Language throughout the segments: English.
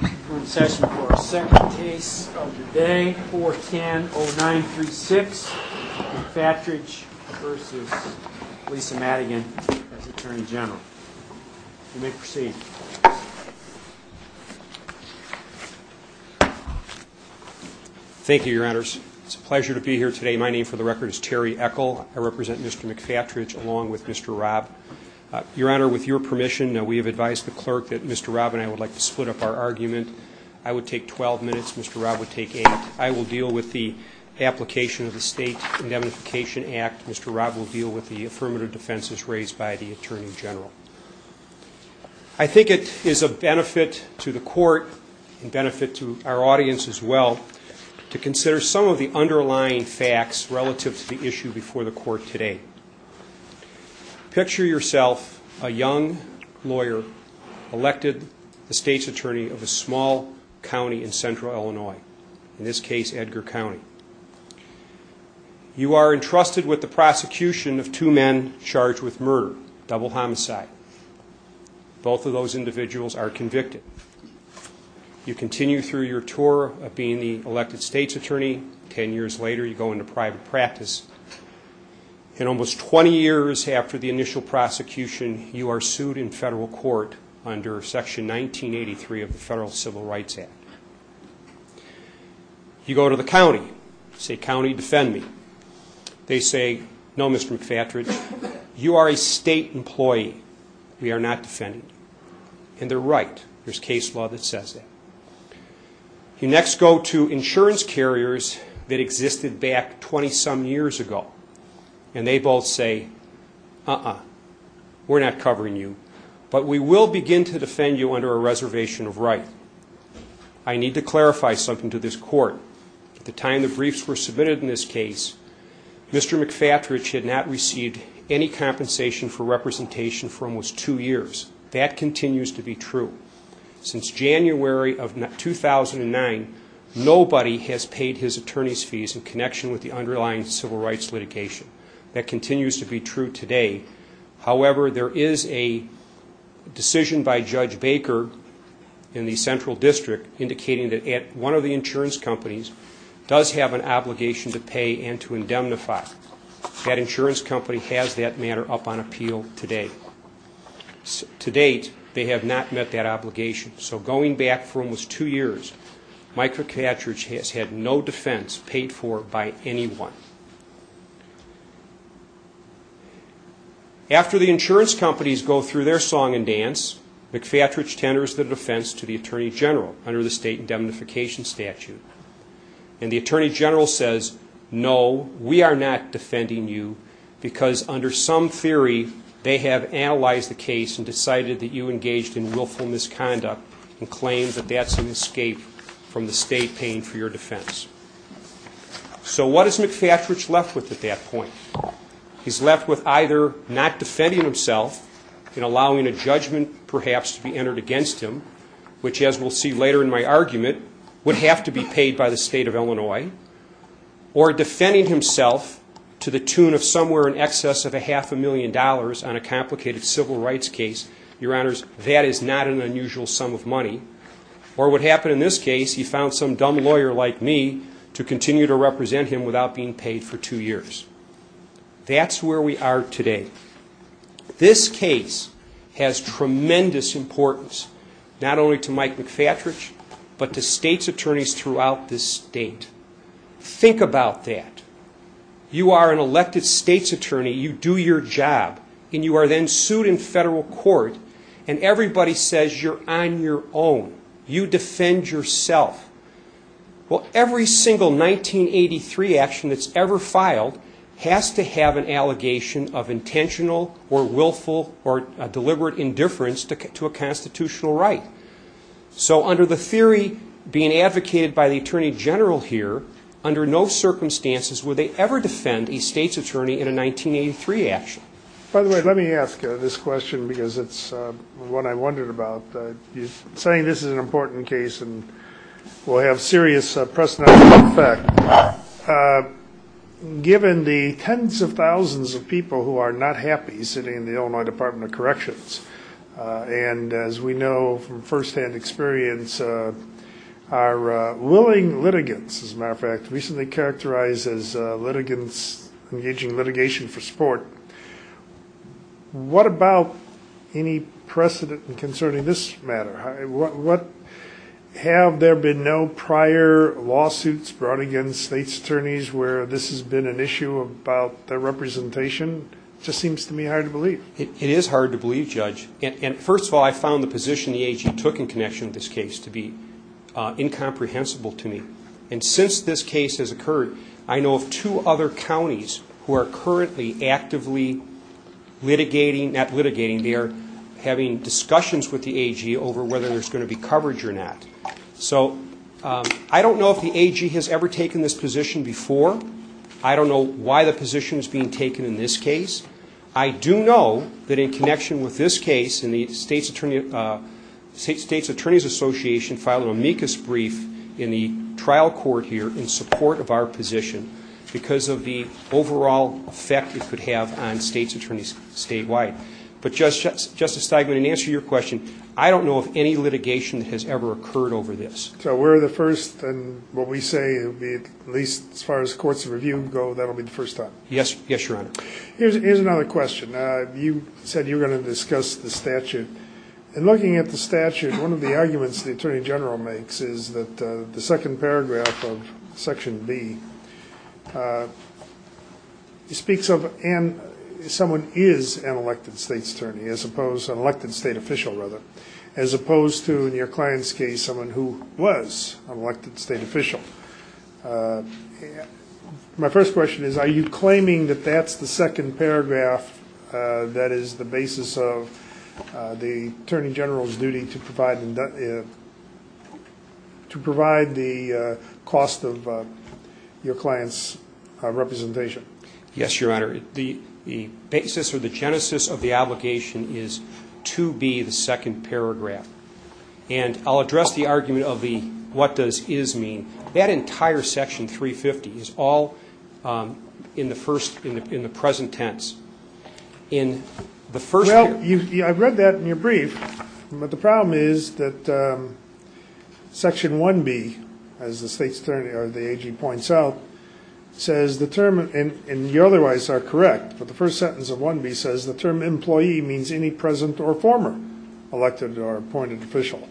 We're in session for our second case of the day, 410-0936, McFatridge v. Lisa Madigan as Attorney General. You may proceed. Thank you, Your Honors. It's a pleasure to be here today. My name, for the record, is Terry Echol. I represent Mr. McFatridge along with Mr. Robb. Your Honor, with your permission, we have advised the clerk that Mr. Robb and I would like to split up our argument. I would take 12 minutes, Mr. Robb would take 8. I will deal with the application of the State Indemnification Act. Mr. Robb will deal with the affirmative defenses raised by the Attorney General. I think it is a benefit to the Court and a benefit to our audience as well to consider some of the underlying facts relative to the issue before the Court today. Picture yourself, a young lawyer, elected the State's Attorney of a small county in central Illinois, in this case, Edgar County. You are entrusted with the prosecution of two men charged with murder, double homicide. Both of those individuals are convicted. You continue through your tour of being the elected State's Attorney. Ten years later, you go into private practice. In almost 20 years after the initial prosecution, you are sued in federal court under Section 1983 of the Federal Civil Rights Act. You go to the county. You say, county, defend me. They say, no, Mr. McFatridge, you are a State employee. We are not defending you. And they're right. There's case law that says that. You next go to insurance carriers that existed back 20-some years ago. And they both say, uh-uh, we're not covering you. But we will begin to defend you under a reservation of right. I need to clarify something to this Court. At the time the briefs were submitted in this case, Mr. McFatridge had not received any compensation for representation for almost two years. That continues to be true. Since January of 2009, nobody has paid his attorney's fees in connection with the underlying civil rights litigation. That continues to be true today. However, there is a decision by Judge Baker in the Central District indicating that one of the insurance companies does have an obligation to pay and to indemnify. That insurance company has that matter up on appeal today. To date, they have not met that obligation. So going back for almost two years, Mr. McFatridge has had no defense paid for by anyone. After the insurance companies go through their song and dance, McFatridge tenders the defense to the Attorney General under the State Indemnification Statute. And the Attorney General says, no, we are not defending you because under some theory they have analyzed the case and decided that you engaged in willful misconduct and claimed that that's an escape from the State paying for your defense. So what is McFatridge left with at that point? He's left with either not defending himself and allowing a judgment perhaps to be entered against him, which as we'll see later in my argument would have to be paid by the State of Illinois, or defending himself to the tune of somewhere in excess of a half a million dollars on a complicated civil rights case. Your Honors, that is not an unusual sum of money. Or what happened in this case, he found some dumb lawyer like me to continue to represent him without being paid for two years. That's where we are today. This case has tremendous importance, not only to Mike McFatridge, but to state's attorneys throughout this state. Think about that. You are an elected state's attorney, you do your job, and you are then sued in federal court and everybody says you're on your own, you defend yourself. Well, every single 1983 action that's ever filed has to have an allegation of intentional or willful or deliberate indifference to a constitutional right. So under the theory being advocated by the Attorney General here, under no circumstances would they ever defend a state's attorney in a 1983 action. By the way, let me ask this question because it's one I wondered about. You're saying this is an important case and will have serious press night effect. Given the tens of thousands of people who are not happy sitting in the Illinois Department of Corrections, and as we know from first-hand experience, our willing litigants, as a matter of fact, recently characterized as litigants engaging litigation for support. What about any precedent concerning this matter? Have there been no prior lawsuits brought against state's attorneys where this has been an issue about their representation? It just seems to me hard to believe. It is hard to believe, Judge. And first of all, I found the position the AG took in connection with this case to be incomprehensible to me. And since this case has occurred, I know of two other counties who are currently actively litigating, not litigating, they are having discussions with the AG over whether there's going to be coverage or not. So I don't know if the AG has ever taken this position before. I don't know why the position is being taken in this case. I do know that in connection with this case, the State's Attorney's Association filed an amicus brief in the trial court here in support of our position because of the overall effect it could have on state's attorneys statewide. But Justice Steigman, in answer to your question, I don't know of any litigation that has ever occurred over this. So we're the first, and what we say, at least as far as courts of review go, that'll be the first time? Yes, Your Honor. Here's another question. You said you were going to discuss the statute. And looking at the statute, one of the arguments the Attorney General makes is that the second paragraph of Section B speaks of someone is an elected state's attorney, as opposed to an elected state official, rather, as opposed to, in your client's case, someone who was an elected state official. My first question is, are you claiming that that's the second paragraph that is the basis of the Attorney General's duty to provide the cost of your client's representation? Yes, Your Honor. The basis or the genesis of the obligation is to be the second paragraph. And I'll address the argument of the what does is mean. That entire Section 350 is all in the present tense. Well, I've read that in your brief. But the problem is that Section 1B, as the state's attorney, or the AG, points out, says the term, and you otherwise are correct, but the first sentence of 1B says the term employee means any present or former elected or appointed official.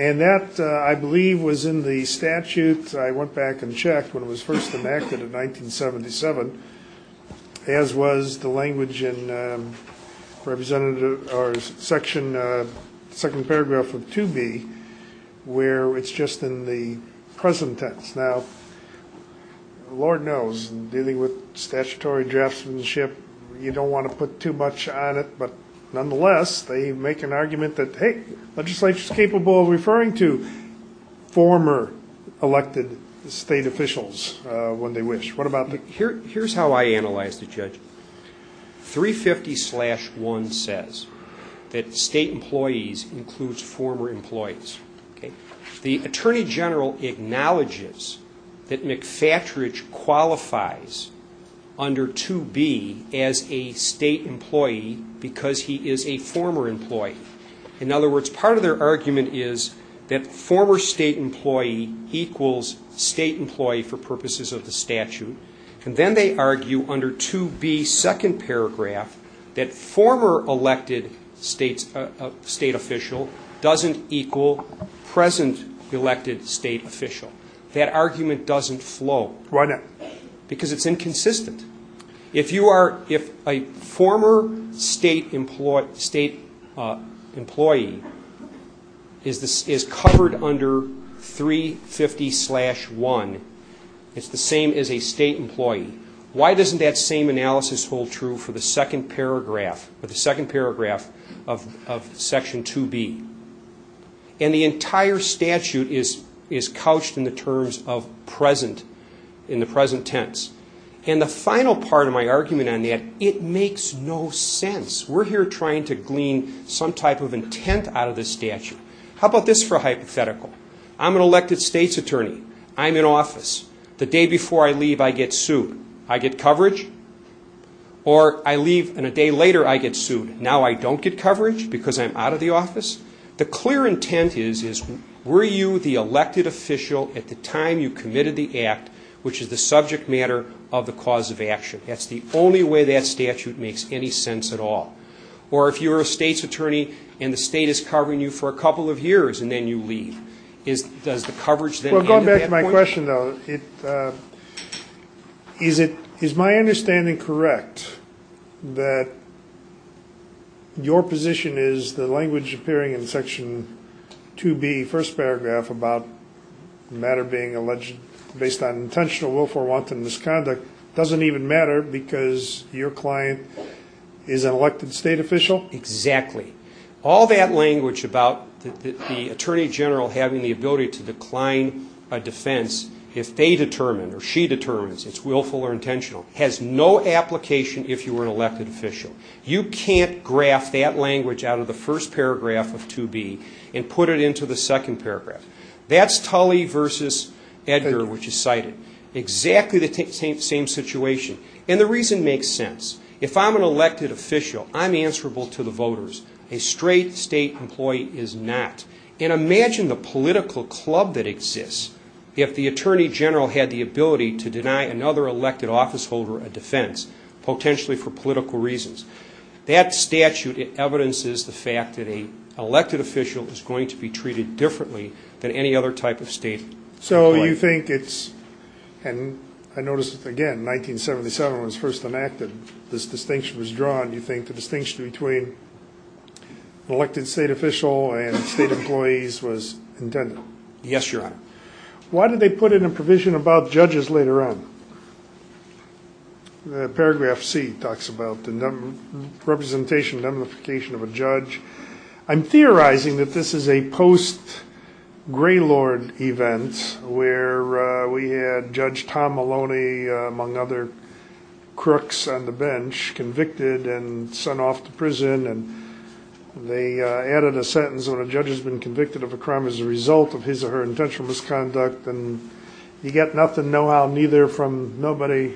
And that, I believe, was in the statute. I went back and checked when it was first enacted in 1977, as was the language in Section 2B, where it's just in the present tense. Now, Lord knows, dealing with statutory draftsmanship, you don't want to put too much on it. But nonetheless, they make an argument that, hey, the legislature is capable of referring to former elected state officials when they wish. What about the... that McFatridge qualifies under 2B as a state employee because he is a former employee. In other words, part of their argument is that former state employee equals state employee for purposes of the statute. And then they argue under 2B, second paragraph, that former elected state official doesn't equal present elected state official. That argument doesn't flow. Why not? Because it's inconsistent. If you are... if a former state employee is covered under 350-1, it's the same as a state employee. Why doesn't that same analysis hold true for the second paragraph of Section 2B? And the entire statute is couched in the terms of present... in the present tense. And the final part of my argument on that, it makes no sense. We're here trying to glean some type of intent out of this statute. How about this for a hypothetical? I'm an elected state's attorney. I'm in office. The day before I leave, I get sued. I get coverage. Or I leave and a day later, I get sued. Now I don't get coverage because I'm out of the office. The clear intent is, were you the elected official at the time you committed the act, which is the subject matter of the cause of action? That's the only way that statute makes any sense at all. Or if you're a state's attorney and the state is covering you for a couple of years and then you leave, does the coverage then... Well, going back to my question, though, is my understanding correct that your position is the language appearing in Section 2B, first paragraph, about the matter being alleged based on intentional willful or wanton misconduct doesn't even matter because your client is an elected state official? Exactly. All that language about the attorney general having the ability to decline a defense if they determine or she determines it's willful or intentional has no application if you were an elected official. You can't graph that language out of the first paragraph of 2B and put it into the second paragraph. That's Tully versus Edgar, which is cited. Exactly the same situation. And the reason makes sense. If I'm an elected official, I'm answerable to the voters. A straight state employee is not. And imagine the political club that exists if the attorney general had the ability to deny another elected officeholder a defense, potentially for political reasons. That statute evidences the fact that an elected official is going to be treated differently than any other type of state employee. So you think it's and I noticed again 1977 was first enacted. This distinction was drawn. You think the distinction between elected state official and state employees was intended? Yes, Your Honor. Why did they put in a provision about judges later on? Paragraph C talks about the representation and identification of a judge. I'm theorizing that this is a post-Greylord event where we had Judge Tom Maloney, among other crooks on the bench, convicted and sent off to prison. And they added a sentence when a judge has been convicted of a crime as a result of his or her intentional misconduct. And you get nothing, no how, neither from nobody,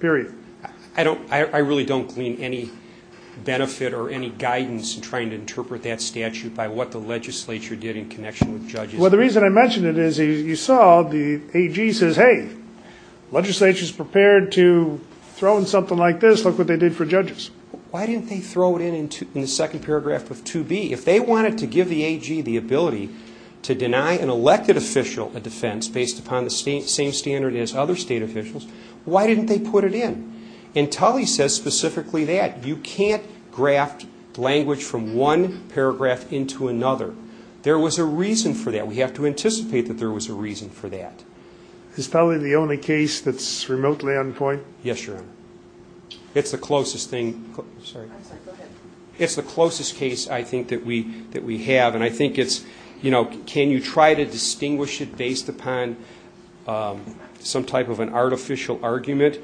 period. I really don't glean any benefit or any guidance in trying to interpret that statute by what the legislature did in connection with judges. Well, the reason I mention it is you saw the AG says, hey, the legislature is prepared to throw in something like this. Look what they did for judges. Why didn't they throw it in in the second paragraph of 2B? If they wanted to give the AG the ability to deny an elected official a defense based upon the same standard as other state officials, why didn't they put it in? And Tully says specifically that. You can't graft language from one paragraph into another. There was a reason for that. We have to anticipate that there was a reason for that. Is Tully the only case that's remotely on point? Yes, Your Honor. It's the closest case I think that we have. And I think it's, you know, can you try to distinguish it based upon some type of an artificial argument?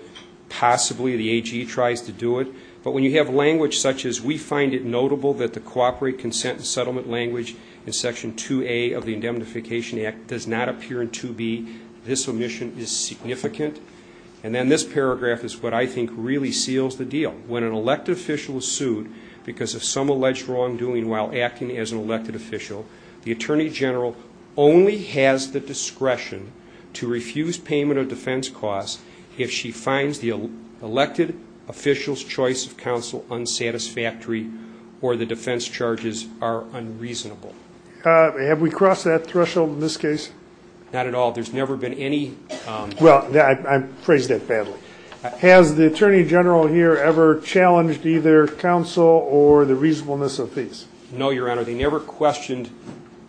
Possibly the AG tries to do it. But when you have language such as we find it notable that the cooperate consent and settlement language in Section 2A of the Indemnification Act does not appear in 2B, this omission is significant. And then this paragraph is what I think really seals the deal. When an elected official is sued because of some alleged wrongdoing while acting as an elected official, the Attorney General only has the discretion to refuse payment of defense costs if she finds the elected official's choice of counsel unsatisfactory or the defense charges are unreasonable. Have we crossed that threshold in this case? Not at all. There's never been any... Well, I phrased that badly. Has the Attorney General here ever challenged either counsel or the reasonableness of fees? No, Your Honor. They never questioned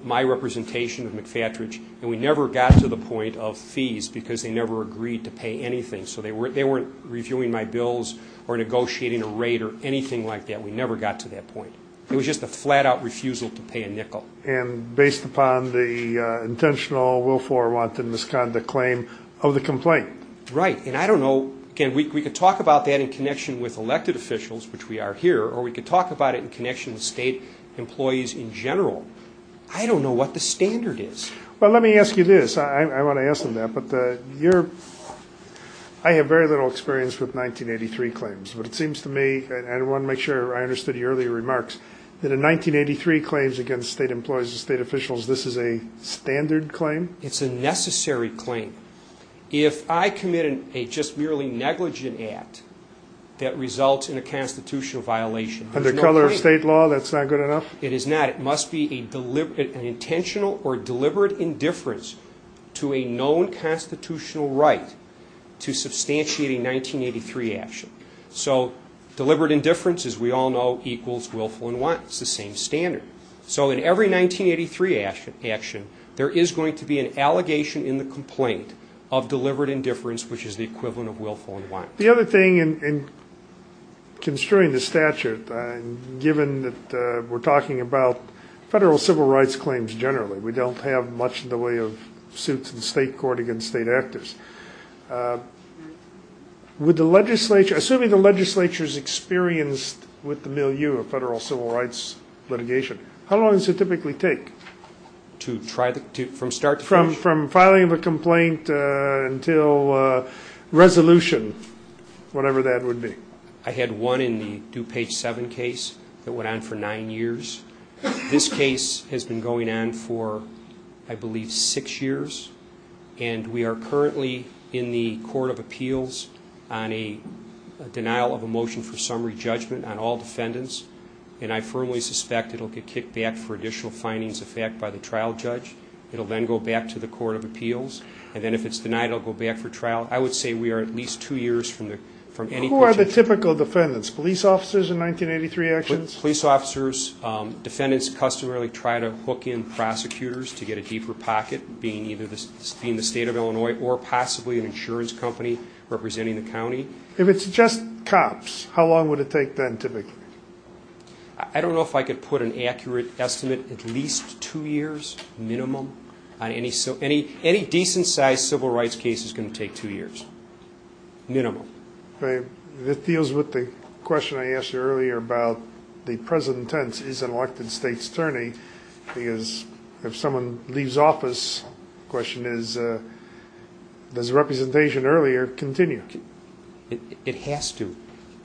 my representation of McFatridge, and we never got to the point of fees because they never agreed to pay anything. So they weren't reviewing my bills or negotiating a rate or anything like that. We never got to that point. It was just a flat-out refusal to pay a nickel. And based upon the intentional, willful, or wanton misconduct claim of the complaint? Right. And I don't know... Again, we could talk about that in connection with elected officials, which we are here, or we could talk about it in connection with state employees in general. I don't know what the standard is. Well, let me ask you this. I want to ask them that. I have very little experience with 1983 claims, but it seems to me, and I want to make sure I understood your earlier remarks, that in 1983 claims against state employees and state officials, this is a standard claim? It's a necessary claim. If I commit a just merely negligent act that results in a constitutional violation... Under color of state law, that's not good enough? It is not. It must be an intentional or deliberate indifference to a known constitutional right to substantiate a 1983 action. So deliberate indifference, as we all know, equals willful and wanton. It's the same standard. So in every 1983 action, there is going to be an allegation in the complaint of deliberate indifference, which is the equivalent of willful and wanton. The other thing in construing the statute, given that we're talking about federal civil rights claims generally, we don't have much in the way of suits in state court against state actors. Assuming the legislature is experienced with the milieu of federal civil rights litigation, how long does it typically take? From start to finish? From complaint until resolution? Whatever that would be. I had one in the DuPage 7 case that went on for nine years. This case has been going on for, I believe, six years. And we are currently in the Court of Appeals on a denial of a motion for summary judgment on all defendants. And I firmly suspect it will get kicked back for additional findings of fact by the trial judge. It will then go back to the Court of Appeals. And then if it's denied, it will go back for trial. I would say we are at least two years from any potential... Who are the typical defendants? Police officers in 1983 actions? Police officers, defendants customarily try to hook in prosecutors to get a deeper pocket, being either the state of Illinois or possibly an insurance company representing the county. If it's just cops, how long would it take then typically? I don't know if I could put an accurate estimate. At least two years minimum. Any decent sized civil rights case is going to take two years. Minimum. This deals with the question I asked you earlier about the present tense is an elected state's attorney. Because if someone leaves office, the question is, does representation earlier continue? It has to. Do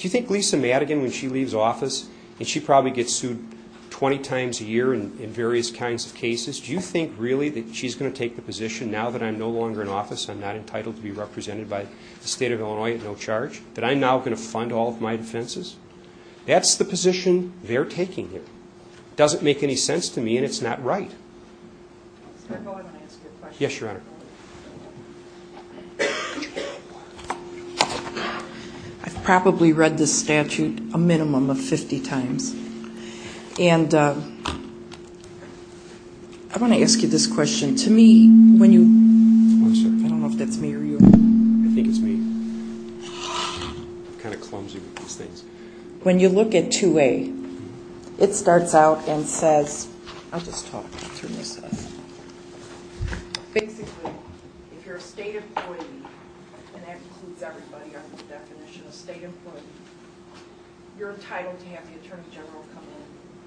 you think Lisa Madigan, when she leaves office, and she probably gets sued 20 times a year in various kinds of cases, do you think really that she's going to take the position, now that I'm no longer in office, I'm not entitled to be represented by the state of Illinois at no charge, that I'm now going to fund all of my defenses? That's the position they're taking here. It doesn't make any sense to me, and it's not right. I've probably read this statute a minimum of 50 times. I want to ask you this question. To me, when you... I don't know if that's me or you. I think it's me. I'm kind of clumsy with these things. When you look at 2A, it starts out and says... I'll just talk through this. Basically, if you're a state employee, and that includes everybody under the definition of state employee, you're entitled to have the attorney general come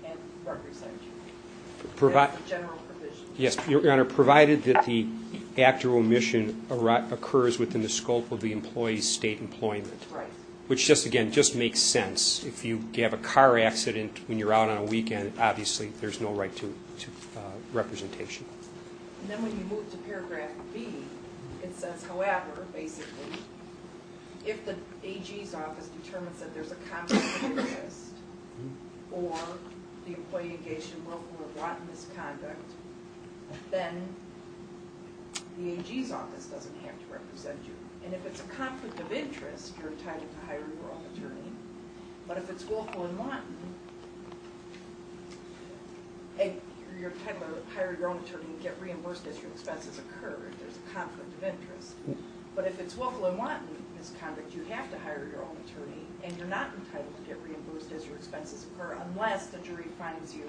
in and represent you. Yes, Your Honor, provided that the actual omission occurs within the scope of the employee's state employment. Right. Which just, again, just makes sense. If you have a car accident when you're out on a weekend, obviously there's no right to representation. And then when you move to paragraph B, it says, however, basically, if the AG's office determines that there's a conflict of interest, or the employee engaged in wrongful or rotten misconduct, then the AG's office doesn't have to represent you. And if there's a conflict of interest, you're entitled to hire your own attorney. But if it's wrongful and rotten, you're entitled to hire your own attorney and get reimbursed as your expenses occur if there's a conflict of interest. But if it's wrongful and rotten misconduct, you have to hire your own attorney, and you're not entitled to get reimbursed as your expenses occur unless the jury finds you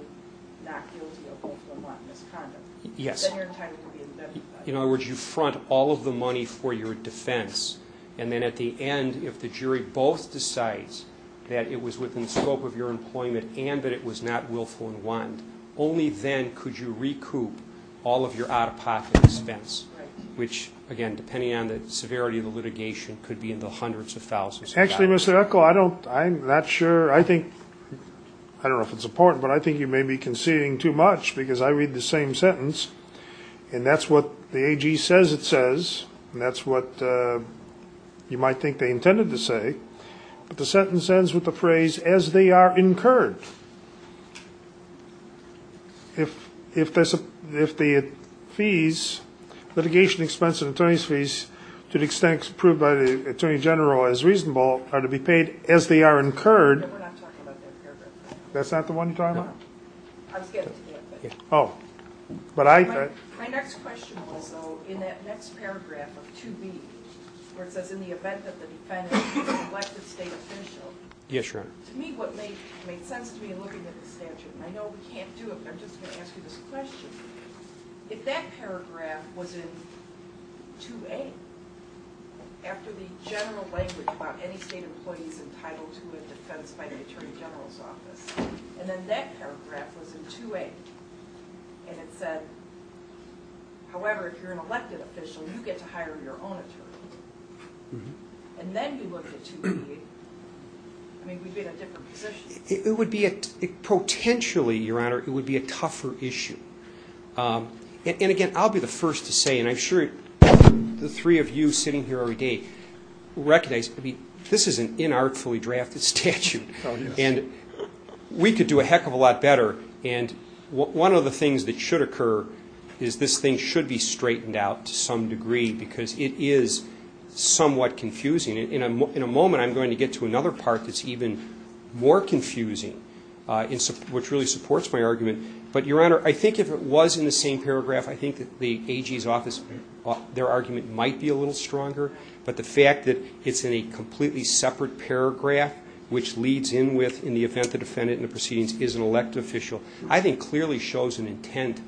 not guilty of wrongful and rotten misconduct. Yes. Then you're entitled to be indemnified. In other words, you front all of the money for your defense, and then at the end, if the jury both decides that it was within the scope of your employment and that it was not willful and rotten, only then could you recoup all of your out-of-pocket expense, which, again, depending on the severity of the litigation, could be in the hundreds of thousands of dollars. Actually, Mr. Eckel, I'm not sure. I don't know if it's important, but I think you may be conceding too much because I read the same sentence, and that's what the AG says it says, and that's what you might think they intended to say. But the sentence ends with the phrase, as they are incurred. If the litigation expense and attorney's fees, to the extent proved by the attorney general as reasonable, are to be paid as they are incurred. We're not talking about that paragraph. That's not the one you're talking about? I was getting to that. My next question was, though, in that next paragraph of 2B, where it says in the event that the defendant is an elected state official, to me what made sense to me in looking at the statute, and I know we can't do it, but I'm just going to ask you this question. If that paragraph was in 2A, after the general language about any state employee's entitled to a defense by the attorney general's office, and then that paragraph was in 2A, and it said, however, if you're an elected official, you get to hire your own attorney, and then we looked at 2B, I mean, we'd be in a different position. It would be a – potentially, Your Honor, it would be a tougher issue. And, again, I'll be the first to say, and I'm sure the three of you sitting here already recognize, this is an inartfully drafted statute, and we could do a heck of a lot better. And one of the things that should occur is this thing should be straightened out to some degree because it is somewhat confusing. In a moment, I'm going to get to another part that's even more confusing, which really supports my argument. But, Your Honor, I think if it was in the same paragraph, I think the AG's office, their argument might be a little stronger. But the fact that it's in a completely separate paragraph, which leads in with, in the event the defendant in the proceedings is an elected official, I think clearly shows an intent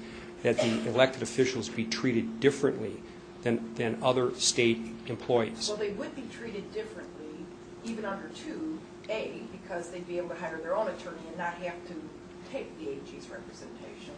that the elected officials be treated differently than other state employees. Well, they would be treated differently, even under 2A, because they'd be able to hire their own attorney and not have to take the AG's representation.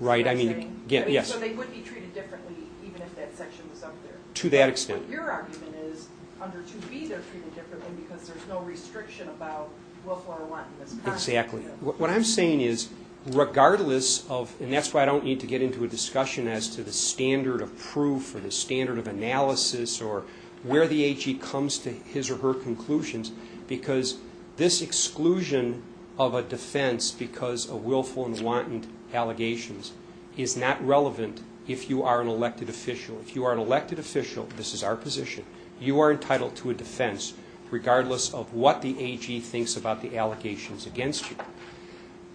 Right, I mean, again, yes. So they would be treated differently, even if that section was up there. To that extent. Your argument is, under 2B, they're treated differently because there's no restriction about willful or wanton misconduct. Exactly. What I'm saying is, regardless of, and that's why I don't need to get into a discussion as to the standard of proof or the standard of analysis or where the AG comes to his or her conclusions, because this exclusion of a defense because of willful and wanton allegations is not relevant if you are an elected official. If you are an elected official, this is our position, you are entitled to a defense regardless of what the AG thinks about the allegations against you.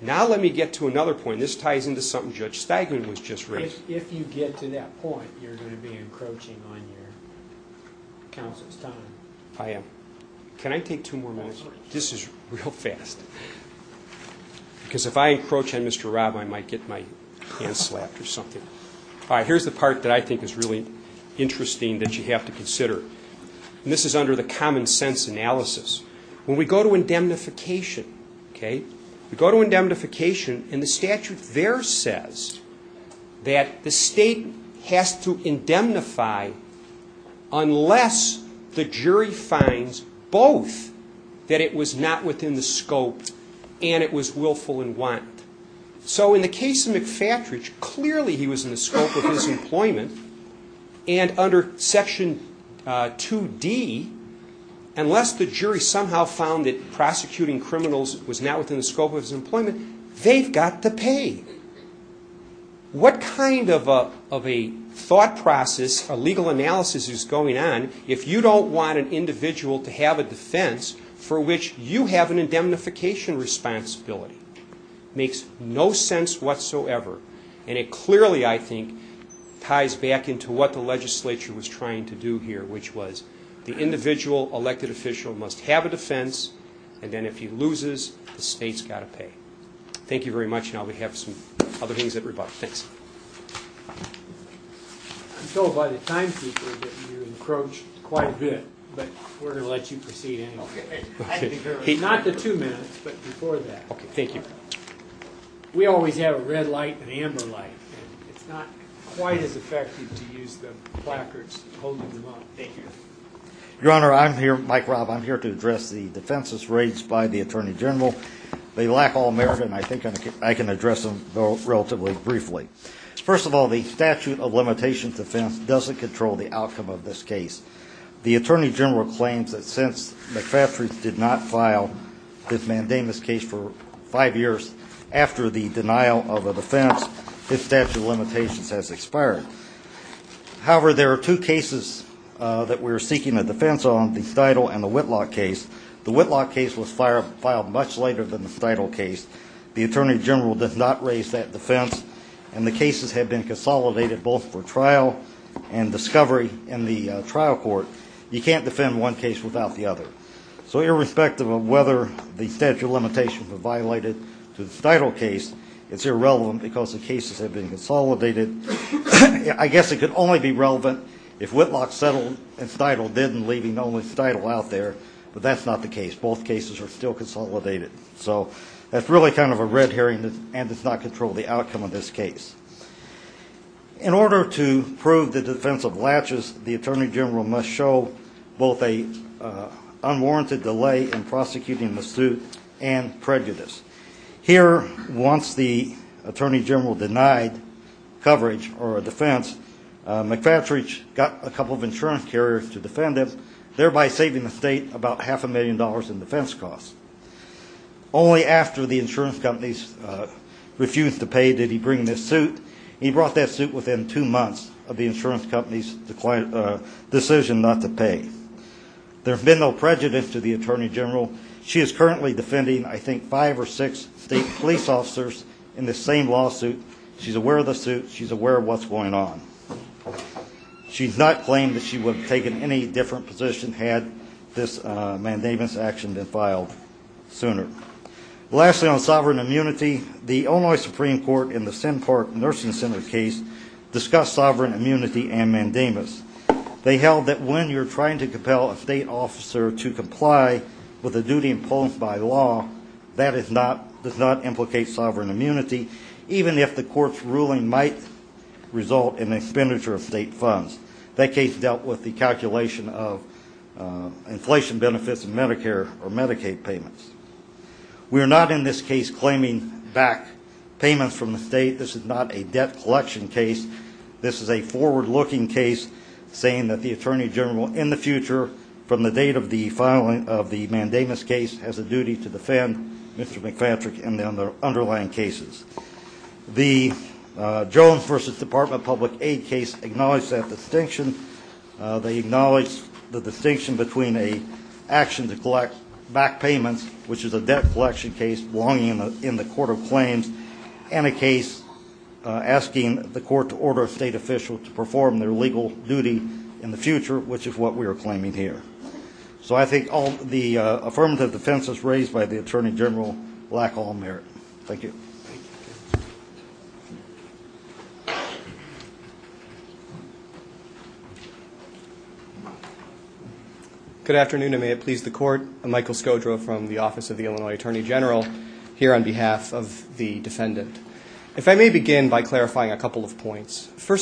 Now let me get to another point. This ties into something Judge Stegman was just raising. If you get to that point, you're going to be encroaching on your counsel's time. I am. Can I take two more minutes? This is real fast. Because if I encroach on Mr. Rob, I might get my hand slapped or something. All right, here's the part that I think is really interesting that you have to consider. And this is under the common sense analysis. When we go to indemnification, okay, we go to indemnification, and the statute there says that the state has to indemnify unless the jury finds both that it was not within the scope and it was willful and wanton. So in the case of McFatridge, clearly he was in the scope of his employment, and under Section 2D, unless the jury somehow found that prosecuting criminals was not within the scope of his employment, they've got to pay. What kind of a thought process or legal analysis is going on if you don't want an individual to have a defense for which you have an indemnification responsibility? It makes no sense whatsoever. And it clearly, I think, ties back into what the legislature was trying to do here, which was the individual elected official must have a defense, and then if he loses, the state's got to pay. Thank you very much. Now we have some other things that we're about to fix. I'm told by the timekeeper that you encroach quite a bit, but we're going to let you proceed anyway. Not the two minutes, but before that. Okay, thank you. We always have a red light and an amber light, and it's not quite as effective to use the placards holding them up. Thank you. Your Honor, I'm here, Mike Robb, I'm here to address the defenses raised by the Attorney General. They lack all merit, and I think I can address them relatively briefly. First of all, the statute of limitations defense doesn't control the outcome of this case. The Attorney General claims that since McPhattridge did not file this mandamus case for five years after the denial of a defense, his statute of limitations has expired. However, there are two cases that we're seeking a defense on, the Steidle and the Whitlock case. The Whitlock case was filed much later than the Steidle case. The Attorney General does not raise that defense, and the cases have been consolidated both for trial and discovery in the trial court. You can't defend one case without the other. So irrespective of whether the statute of limitations were violated to the Steidle case, it's irrelevant because the cases have been consolidated. I guess it could only be relevant if Whitlock settled and Steidle didn't, leaving only Steidle out there, but that's not the case. Both cases are still consolidated. So that's really kind of a red herring and does not control the outcome of this case. In order to prove the defense of laches, the Attorney General must show both an unwarranted delay in prosecuting the suit and prejudice. Here, once the Attorney General denied coverage or a defense, McPhattridge got a couple of insurance carriers to defend him, thereby saving the state about half a million dollars in defense costs. Only after the insurance companies refused to pay did he bring this suit. He brought that suit within two months of the insurance company's decision not to pay. There's been no prejudice to the Attorney General. She is currently defending, I think, five or six state police officers in this same lawsuit. She's aware of the suit. She's aware of what's going on. She's not claimed that she would have taken any different position had this mandamus action been filed sooner. Lastly, on sovereign immunity, the Illinois Supreme Court in the Senn Park Nursing Center case discussed sovereign immunity and mandamus. They held that when you're trying to compel a state officer to comply with a duty imposed by law, that does not implicate sovereign immunity, even if the court's ruling might result in expenditure of state funds. That case dealt with the calculation of inflation benefits of Medicare or Medicaid payments. We are not, in this case, claiming back payments from the state. This is not a debt collection case. This is a forward-looking case saying that the Attorney General, in the future, from the date of the filing of the mandamus case, has a duty to defend Mr. McFatrick and the underlying cases. The Jones v. Department of Public Aid case acknowledged that distinction. They acknowledged the distinction between an action to collect back payments, which is a debt collection case, belonging in the court of claims, and a case asking the court to order a state official to perform their legal duty in the future, which is what we are claiming here. So I think all the affirmative defenses raised by the Attorney General lack all merit. Thank you. Good afternoon, and may it please the Court. I'm Michael Skodro from the Office of the Illinois Attorney General, here on behalf of the defendant. First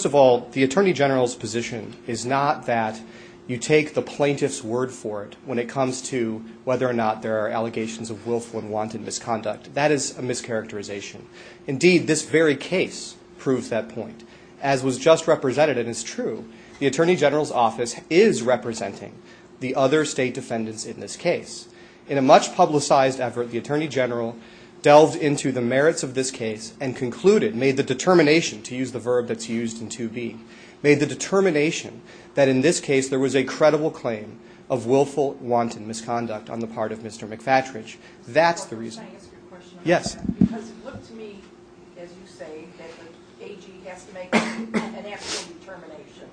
of all, the Attorney General's position is not that you take the plaintiff's word for it when it comes to whether or not there are allegations of willful and wanted misconduct. That is a mischaracterization. Indeed, this very case proves that point. As was just represented, and it's true, the Attorney General's office is representing the other state defendants in this case. In a much-publicized effort, the Attorney General delved into the merits of this case and concluded, made the determination, to use the verb that's used in 2B, made the determination that in this case there was a credible claim of willful, wanted misconduct on the part of Mr. McFatridge. That's the reason. Can I ask you a question about that? Yes. Because it looked to me, as you say, that the AG has to make an actual determination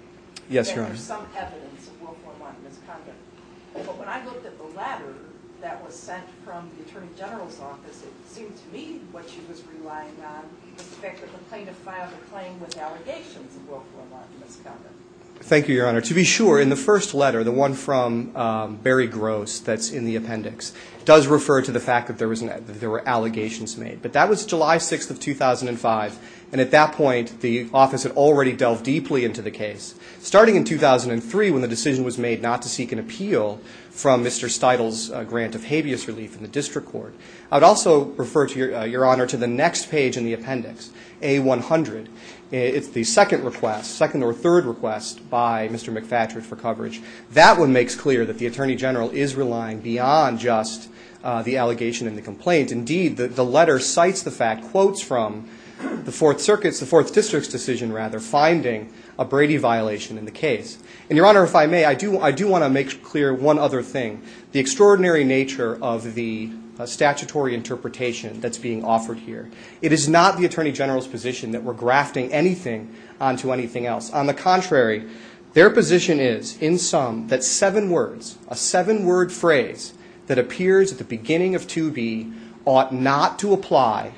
that there is some evidence of willful and wanted misconduct. But when I looked at the letter that was sent from the Attorney General's office, it seemed to me what she was relying on was the fact that the plaintiff filed a claim with allegations of willful and wanted misconduct. Thank you, Your Honor. To be sure, in the first letter, the one from Barry Gross that's in the appendix, does refer to the fact that there were allegations made. But that was July 6th of 2005, and at that point the office had already delved deeply into the case. Starting in 2003, when the decision was made not to seek an appeal from Mr. Steudle's grant of habeas relief in the district court, I would also refer, Your Honor, to the next page in the appendix, A-100. It's the second request, second or third request, by Mr. McFatridge for coverage. That one makes clear that the Attorney General is relying beyond just the allegation and the complaint. Indeed, the letter cites the fact, quotes from the Fourth Circuit's, the Fourth District's decision, rather, of finding a Brady violation in the case. And, Your Honor, if I may, I do want to make clear one other thing, the extraordinary nature of the statutory interpretation that's being offered here. It is not the Attorney General's position that we're grafting anything onto anything else. On the contrary, their position is, in sum, that seven words, a seven-word phrase that appears at the beginning of 2B ought not to apply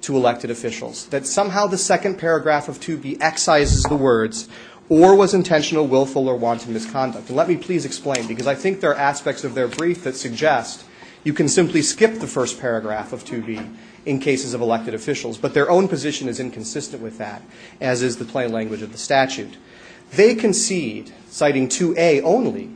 to elected officials, that somehow the second paragraph of 2B excises the words, or was intentional, willful, or wanton misconduct. And let me please explain, because I think there are aspects of their brief that suggest you can simply skip the first paragraph of 2B in cases of elected officials, but their own position is inconsistent with that, as is the plain language of the statute. They concede, citing 2A only,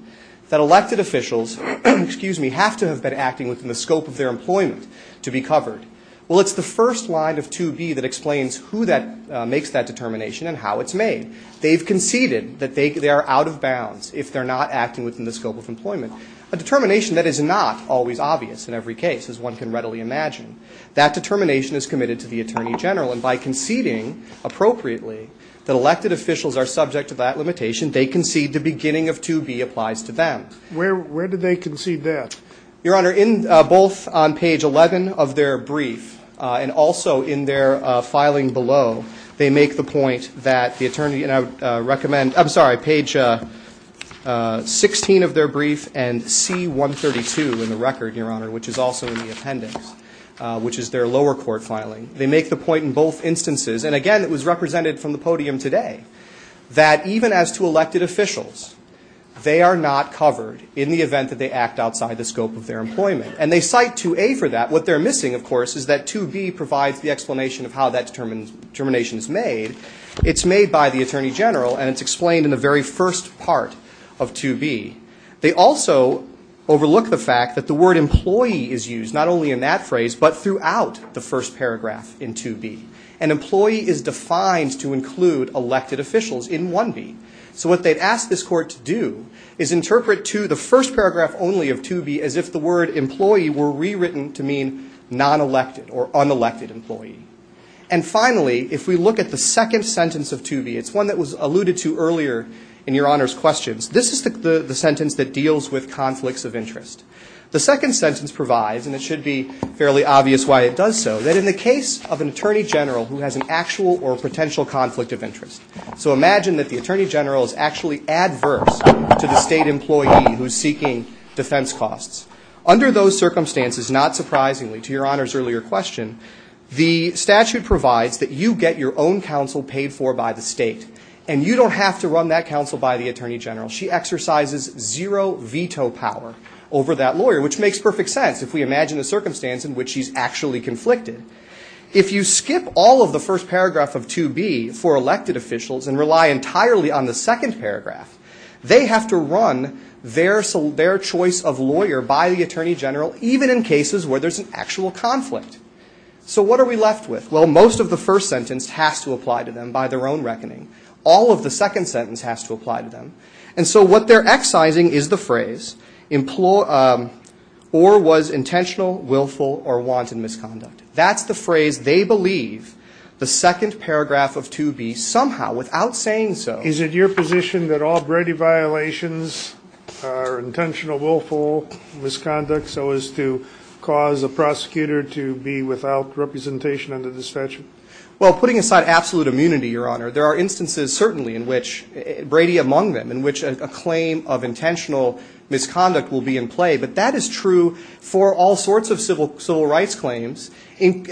that elected officials, excuse me, have to have been acting within the scope of their employment to be covered. Well, it's the first line of 2B that explains who makes that determination and how it's made. They've conceded that they are out of bounds if they're not acting within the scope of employment, a determination that is not always obvious in every case, as one can readily imagine. That determination is committed to the Attorney General. And by conceding appropriately that elected officials are subject to that limitation, they concede the beginning of 2B applies to them. Where did they concede that? Your Honor, both on page 11 of their brief and also in their filing below, they make the point that the Attorney General recommends, I'm sorry, page 16 of their brief and C132 in the record, Your Honor, which is also in the appendix, which is their lower court filing. They make the point in both instances, and again, it was represented from the podium today, that even as to elected officials, they are not covered in the event that they act outside the scope of their employment. And they cite 2A for that. What they're missing, of course, is that 2B provides the explanation of how that determination is made. It's made by the Attorney General, and it's explained in the very first part of 2B. They also overlook the fact that the word employee is used not only in that phrase but throughout the first paragraph in 2B. An employee is defined to include elected officials in 1B. So what they'd ask this court to do is interpret to the first paragraph only of 2B as if the word employee were rewritten to mean non-elected or unelected employee. And finally, if we look at the second sentence of 2B, it's one that was alluded to earlier in Your Honor's questions, this is the sentence that deals with conflicts of interest. The second sentence provides, and it should be fairly obvious why it does so, that in the case of an Attorney General who has an actual or potential conflict of interest, so imagine that the Attorney General is actually adverse to the state employee who's seeking defense costs. Under those circumstances, not surprisingly to Your Honor's earlier question, the statute provides that you get your own counsel paid for by the state, and you don't have to run that counsel by the Attorney General. She exercises zero veto power over that lawyer, which makes perfect sense if we imagine the circumstance in which she's actually conflicted. If you skip all of the first paragraph of 2B for elected officials and rely entirely on the second paragraph, they have to run their choice of lawyer by the Attorney General, even in cases where there's an actual conflict. So what are we left with? Well, most of the first sentence has to apply to them by their own reckoning. All of the second sentence has to apply to them. And so what they're excising is the phrase, or was intentional, willful, or wanted misconduct. That's the phrase they believe the second paragraph of 2B somehow, without saying so. Is it your position that all Brady violations are intentional, willful misconduct so as to cause a prosecutor to be without representation under this statute? Well, putting aside absolute immunity, Your Honor, there are instances certainly in which, Brady among them, in which a claim of intentional misconduct will be in play. But that is true for all sorts of civil rights claims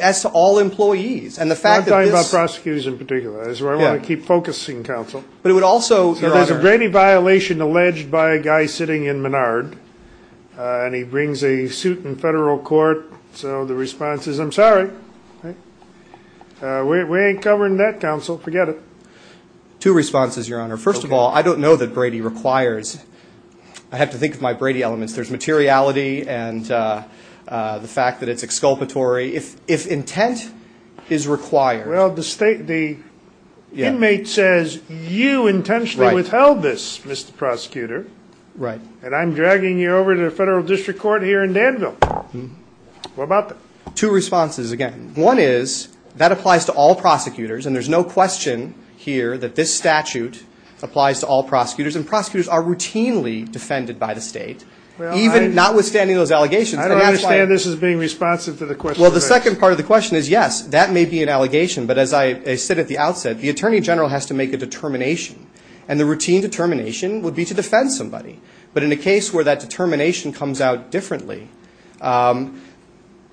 as to all employees. I'm talking about prosecutors in particular. That's where I want to keep focusing, counsel. But it would also, Your Honor. If there's a Brady violation alleged by a guy sitting in Menard and he brings a suit in federal court, so the response is, I'm sorry. We ain't covering that, counsel. Forget it. Two responses, Your Honor. First of all, I don't know that Brady requires. I have to think of my Brady elements. There's materiality and the fact that it's exculpatory. If intent is required. Well, the state, the inmate says, you intentionally withheld this, Mr. Prosecutor. Right. And I'm dragging you over to federal district court here in Danville. What about that? Two responses, again. One is, that applies to all prosecutors, and there's no question here that this statute applies to all prosecutors. And prosecutors are routinely defended by the state, even notwithstanding those allegations. I don't understand this as being responsive to the question. Well, the second part of the question is, yes, that may be an allegation. But as I said at the outset, the attorney general has to make a determination. And the routine determination would be to defend somebody. But in a case where that determination comes out differently,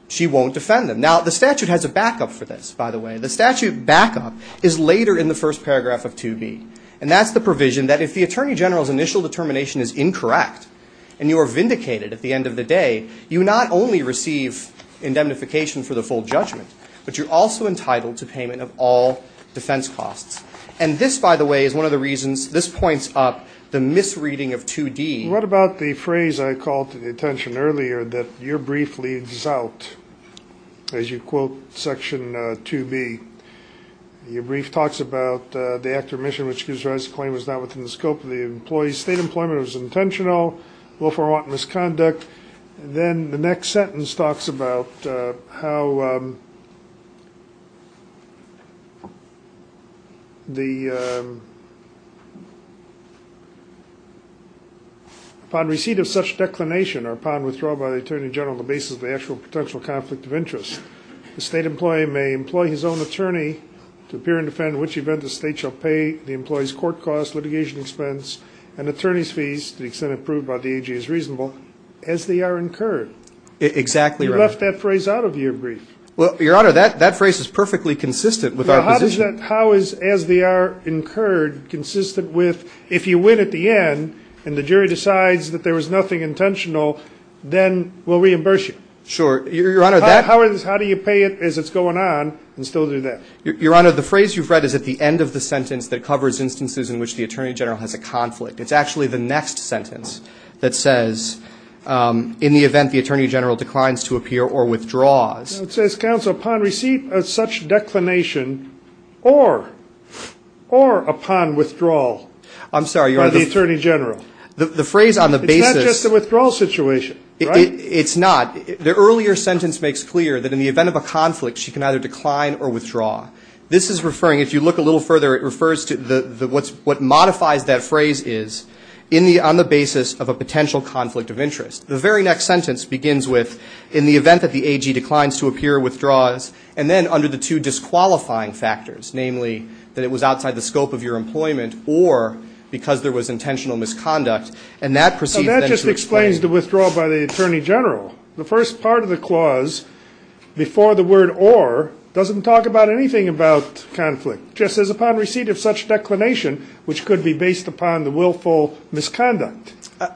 she won't defend them. Now, the statute has a backup for this, by the way. The statute backup is later in the first paragraph of 2B. And that's the provision that if the attorney general's initial determination is incorrect, and you are vindicated at the end of the day, you not only receive indemnification for the full judgment, but you're also entitled to payment of all defense costs. And this, by the way, is one of the reasons this points up the misreading of 2D. What about the phrase I called to the attention earlier, that your brief leads out, as you quote Section 2B? Your brief talks about the act of remission which gives rise to claim was not within the scope of the employee's state employment, was intentional, willful or wanton misconduct. Then the next sentence talks about how upon receipt of such declination or upon withdrawal by the attorney general on the basis of the actual potential conflict of interest, the state employee may employ his own attorney to appear and defend in which event the state shall pay the employee's court costs, litigation expense, and attorney's fees to the extent approved by the AG as reasonable, as they are incurred. Exactly, Your Honor. You left that phrase out of your brief. Well, Your Honor, that phrase is perfectly consistent with our position. How is as they are incurred consistent with if you win at the end and the jury decides that there was nothing intentional, then we'll reimburse you? Sure. Your Honor, how do you pay it as it's going on and still do that? Your Honor, the phrase you've read is at the end of the sentence that covers instances in which the attorney general has a conflict. It's actually the next sentence that says, in the event the attorney general declines to appear or withdraws. It says, counsel, upon receipt of such declination or upon withdrawal by the attorney general. I'm sorry, Your Honor. The phrase on the basis of the withdrawal situation, right? It's not. The earlier sentence makes clear that in the event of a conflict, she can either decline or withdraw. This is referring, if you look a little further, it refers to what modifies that phrase is on the basis of a potential conflict of interest. The very next sentence begins with, in the event that the AG declines to appear or withdraws, and then under the two disqualifying factors, namely that it was outside the scope of your employment or because there was intentional misconduct, and that proceeds then to explain. That just explains the withdraw by the attorney general. The first part of the clause, before the word or, doesn't talk about anything about conflict. It just says, upon receipt of such declination, which could be based upon the willful misconduct.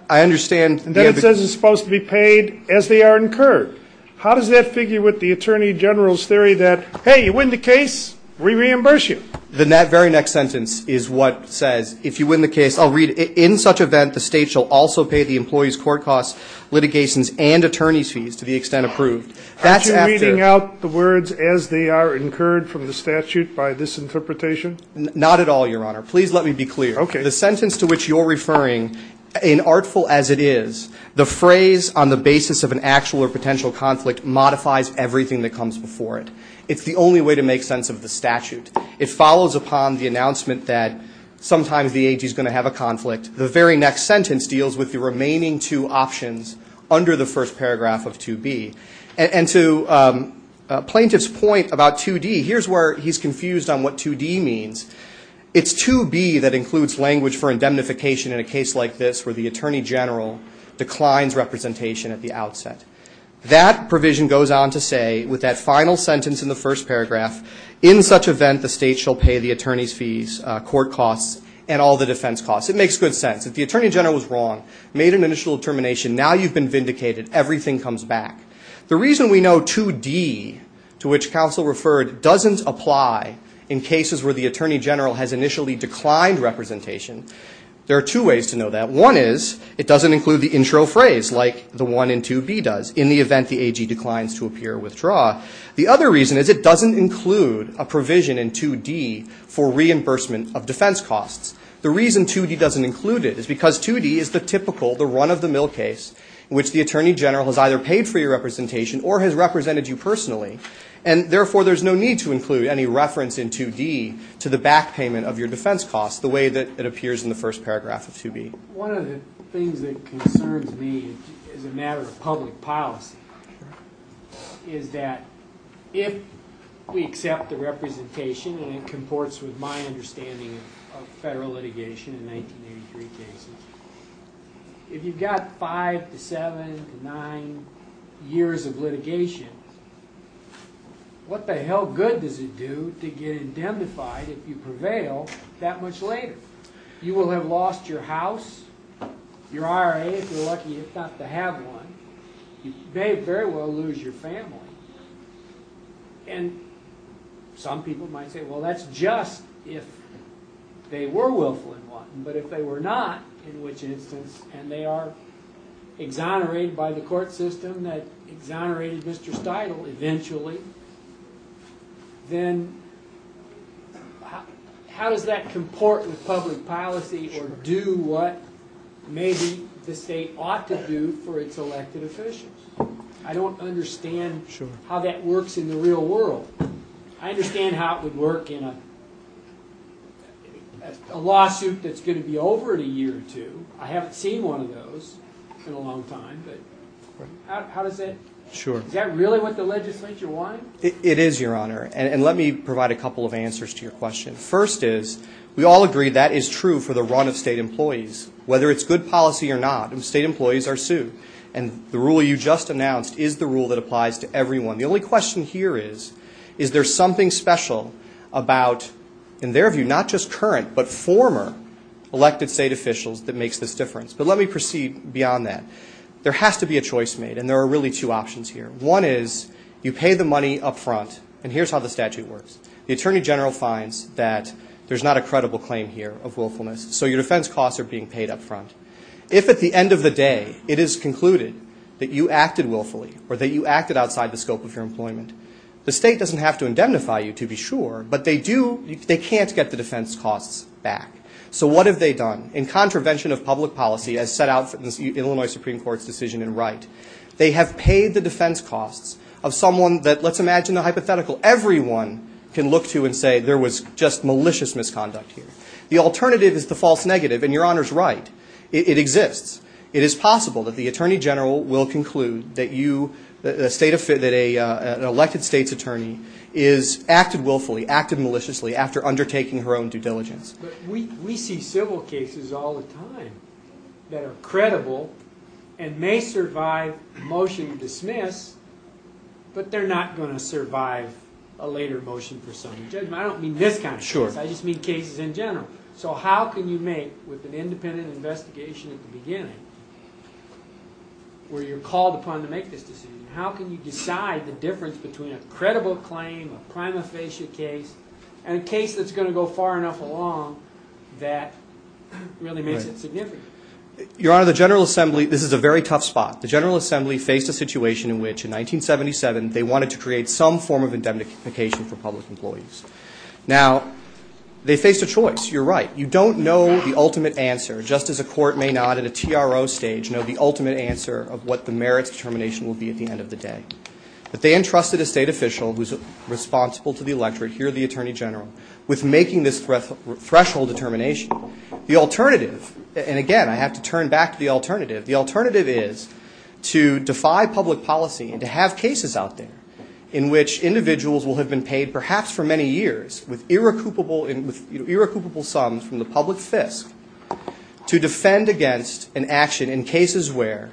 I understand. And then it says it's supposed to be paid as they are incurred. How does that figure with the attorney general's theory that, hey, you win the case, we reimburse you? The very next sentence is what says, if you win the case, I'll read, in such event, the state shall also pay the employee's court costs, litigations, and attorney's fees, to the extent approved. Aren't you reading out the words, as they are incurred from the statute, by this interpretation? Not at all, Your Honor. Please let me be clear. Okay. The sentence to which you're referring, in artful as it is, the phrase, on the basis of an actual or potential conflict, modifies everything that comes before it. It's the only way to make sense of the statute. It follows upon the announcement that, sometimes the AG is going to have a conflict. The very next sentence deals with the remaining two options, under the first paragraph of 2B. And to a plaintiff's point about 2D, here's where he's confused on what 2D means. It's 2B that includes language for indemnification in a case like this, where the attorney general declines representation at the outset. That provision goes on to say, with that final sentence in the first paragraph, in such event, the state shall pay the attorney's fees, court costs, and all the defense costs. It makes good sense. If the attorney general was wrong, made an initial determination, now you've been vindicated. Everything comes back. The reason we know 2D, to which counsel referred, doesn't apply in cases where the attorney general has initially declined representation, there are two ways to know that. One is, it doesn't include the intro phrase, like the one in 2B does, in the event the AG declines to appear or withdraw. The other reason is, it doesn't include a provision in 2D for reimbursement of defense costs. The reason 2D doesn't include it is because 2D is the typical, the run-of-the-mill case, in which the attorney general has either paid for your representation or has represented you personally, and therefore there's no need to include any reference in 2D to the back payment of your defense costs, the way that it appears in the first paragraph of 2B. One of the things that concerns me as a matter of public policy is that if we accept the representation, and it comports with my understanding of federal litigation in 1983 cases, if you've got five to seven to nine years of litigation, what the hell good does it do to get indemnified if you prevail that much later? You will have lost your house, your IRA if you're lucky enough not to have one, and you may very well lose your family. And some people might say, well, that's just if they were willful in wanting, but if they were not, in which instance, and they are exonerated by the court system that exonerated Mr. Steudle eventually, then how does that comport with public policy or do what maybe the state ought to do for its elected officials? I don't understand how that works in the real world. I understand how it would work in a lawsuit that's going to be over in a year or two. I haven't seen one of those in a long time, but how does it? Is that really what the legislature wanted? It is, Your Honor, and let me provide a couple of answers to your question. First is, we all agree that is true for the run of state employees, whether it's good policy or not. State employees are sued, and the rule you just announced is the rule that applies to everyone. The only question here is, is there something special about, in their view, not just current but former elected state officials that makes this difference? But let me proceed beyond that. There has to be a choice made, and there are really two options here. One is you pay the money up front, and here's how the statute works. The attorney general finds that there's not a credible claim here of willfulness, so your defense costs are being paid up front. If at the end of the day it is concluded that you acted willfully or that you acted outside the scope of your employment, the state doesn't have to indemnify you, to be sure, but they can't get the defense costs back. So what have they done? In contravention of public policy, as set out in the Illinois Supreme Court's decision in Wright, they have paid the defense costs of someone that, let's imagine the hypothetical, everyone can look to and say there was just malicious misconduct here. The alternative is the false negative, and Your Honor's right. It exists. It is possible that the attorney general will conclude that you, that an elected state's attorney has acted willfully, acted maliciously, after undertaking her own due diligence. But we see civil cases all the time that are credible and may survive motion to dismiss, but they're not going to survive a later motion for summary judgment. I don't mean this kind of case. I just mean cases in general. So how can you make, with an independent investigation at the beginning, where you're called upon to make this decision, how can you decide the difference between a credible claim, a prima facie case, and a case that's going to go far enough along that really makes it significant? Your Honor, the General Assembly, this is a very tough spot. The General Assembly faced a situation in which, in 1977, they wanted to create some form of indemnification for public employees. Now, they faced a choice. You're right. You don't know the ultimate answer, just as a court may not at a TRO stage know the ultimate answer of what the merits determination will be at the end of the day. But they entrusted a state official who's responsible to the electorate, here the attorney general, with making this threshold determination. The alternative, and again, I have to turn back to the alternative. The alternative is to defy public policy and to have cases out there in which individuals will have been paid, perhaps for many years, with irrecoupable sums from the public fisc, to defend against an action in cases where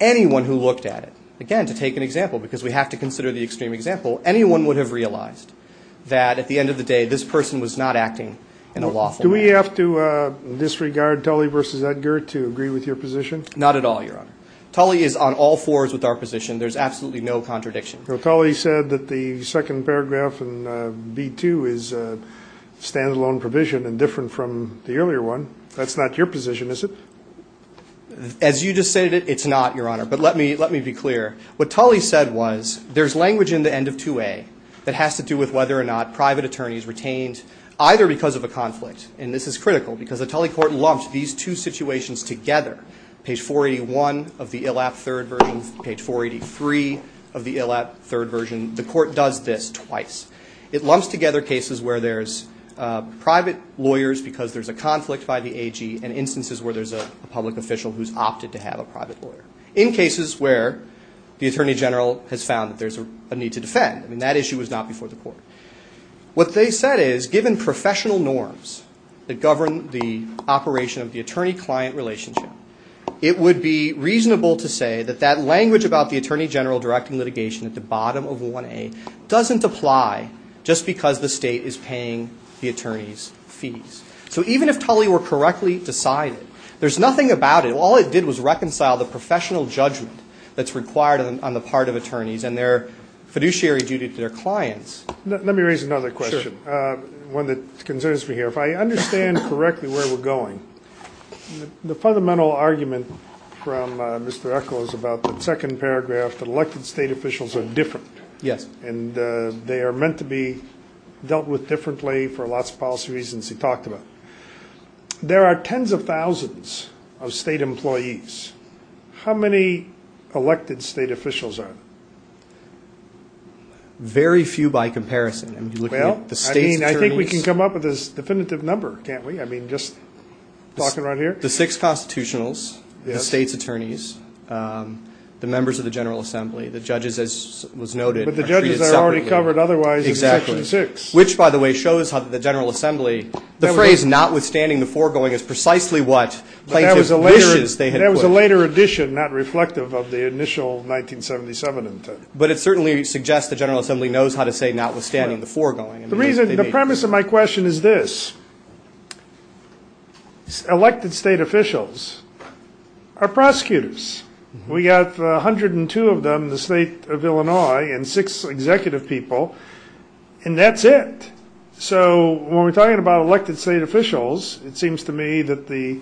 anyone who looked at it, again, to take an example, because we have to consider the extreme example, anyone would have realized that, at the end of the day, this person was not acting in a lawful manner. Do we have to disregard Tully versus Edgar to agree with your position? Not at all, Your Honor. Tully is on all fours with our position. There's absolutely no contradiction. Tully said that the second paragraph in B2 is a stand-alone provision and different from the earlier one. That's not your position, is it? As you just stated, it's not, Your Honor. But let me be clear. What Tully said was there's language in the end of 2A that has to do with whether or not and this is critical because the Tully court lumped these two situations together, page 481 of the ILAP third version, page 483 of the ILAP third version. The court does this twice. It lumps together cases where there's private lawyers because there's a conflict by the AG and instances where there's a public official who's opted to have a private lawyer, in cases where the Attorney General has found that there's a need to defend. I mean, that issue was not before the court. What they said is given professional norms that govern the operation of the attorney-client relationship, it would be reasonable to say that that language about the Attorney General directing litigation at the bottom of 1A doesn't apply just because the state is paying the attorney's fees. So even if Tully were correctly decided, there's nothing about it. All it did was reconcile the professional judgment that's required on the part of attorneys and their fiduciary duty to their clients. Let me raise another question, one that concerns me here. If I understand correctly where we're going, the fundamental argument from Mr. Eckel is about the second paragraph, that elected state officials are different. Yes. And they are meant to be dealt with differently for lots of policy reasons he talked about. There are tens of thousands of state employees. How many elected state officials are there? Very few by comparison. Well, I mean, I think we can come up with a definitive number, can't we? I mean, just talking right here? The six constitutionals, the state's attorneys, the members of the General Assembly, the judges as was noted are treated separately. But the judges are already covered otherwise in Section 6. Exactly. Which, by the way, shows how the General Assembly, the phrase notwithstanding the foregoing is precisely what plaintiff wishes they had put. That was a later addition, not reflective of the initial 1977 intent. But it certainly suggests the General Assembly knows how to say notwithstanding the foregoing. The premise of my question is this. Elected state officials are prosecutors. We've got 102 of them in the state of Illinois and six executive people, and that's it. So when we're talking about elected state officials, it seems to me that the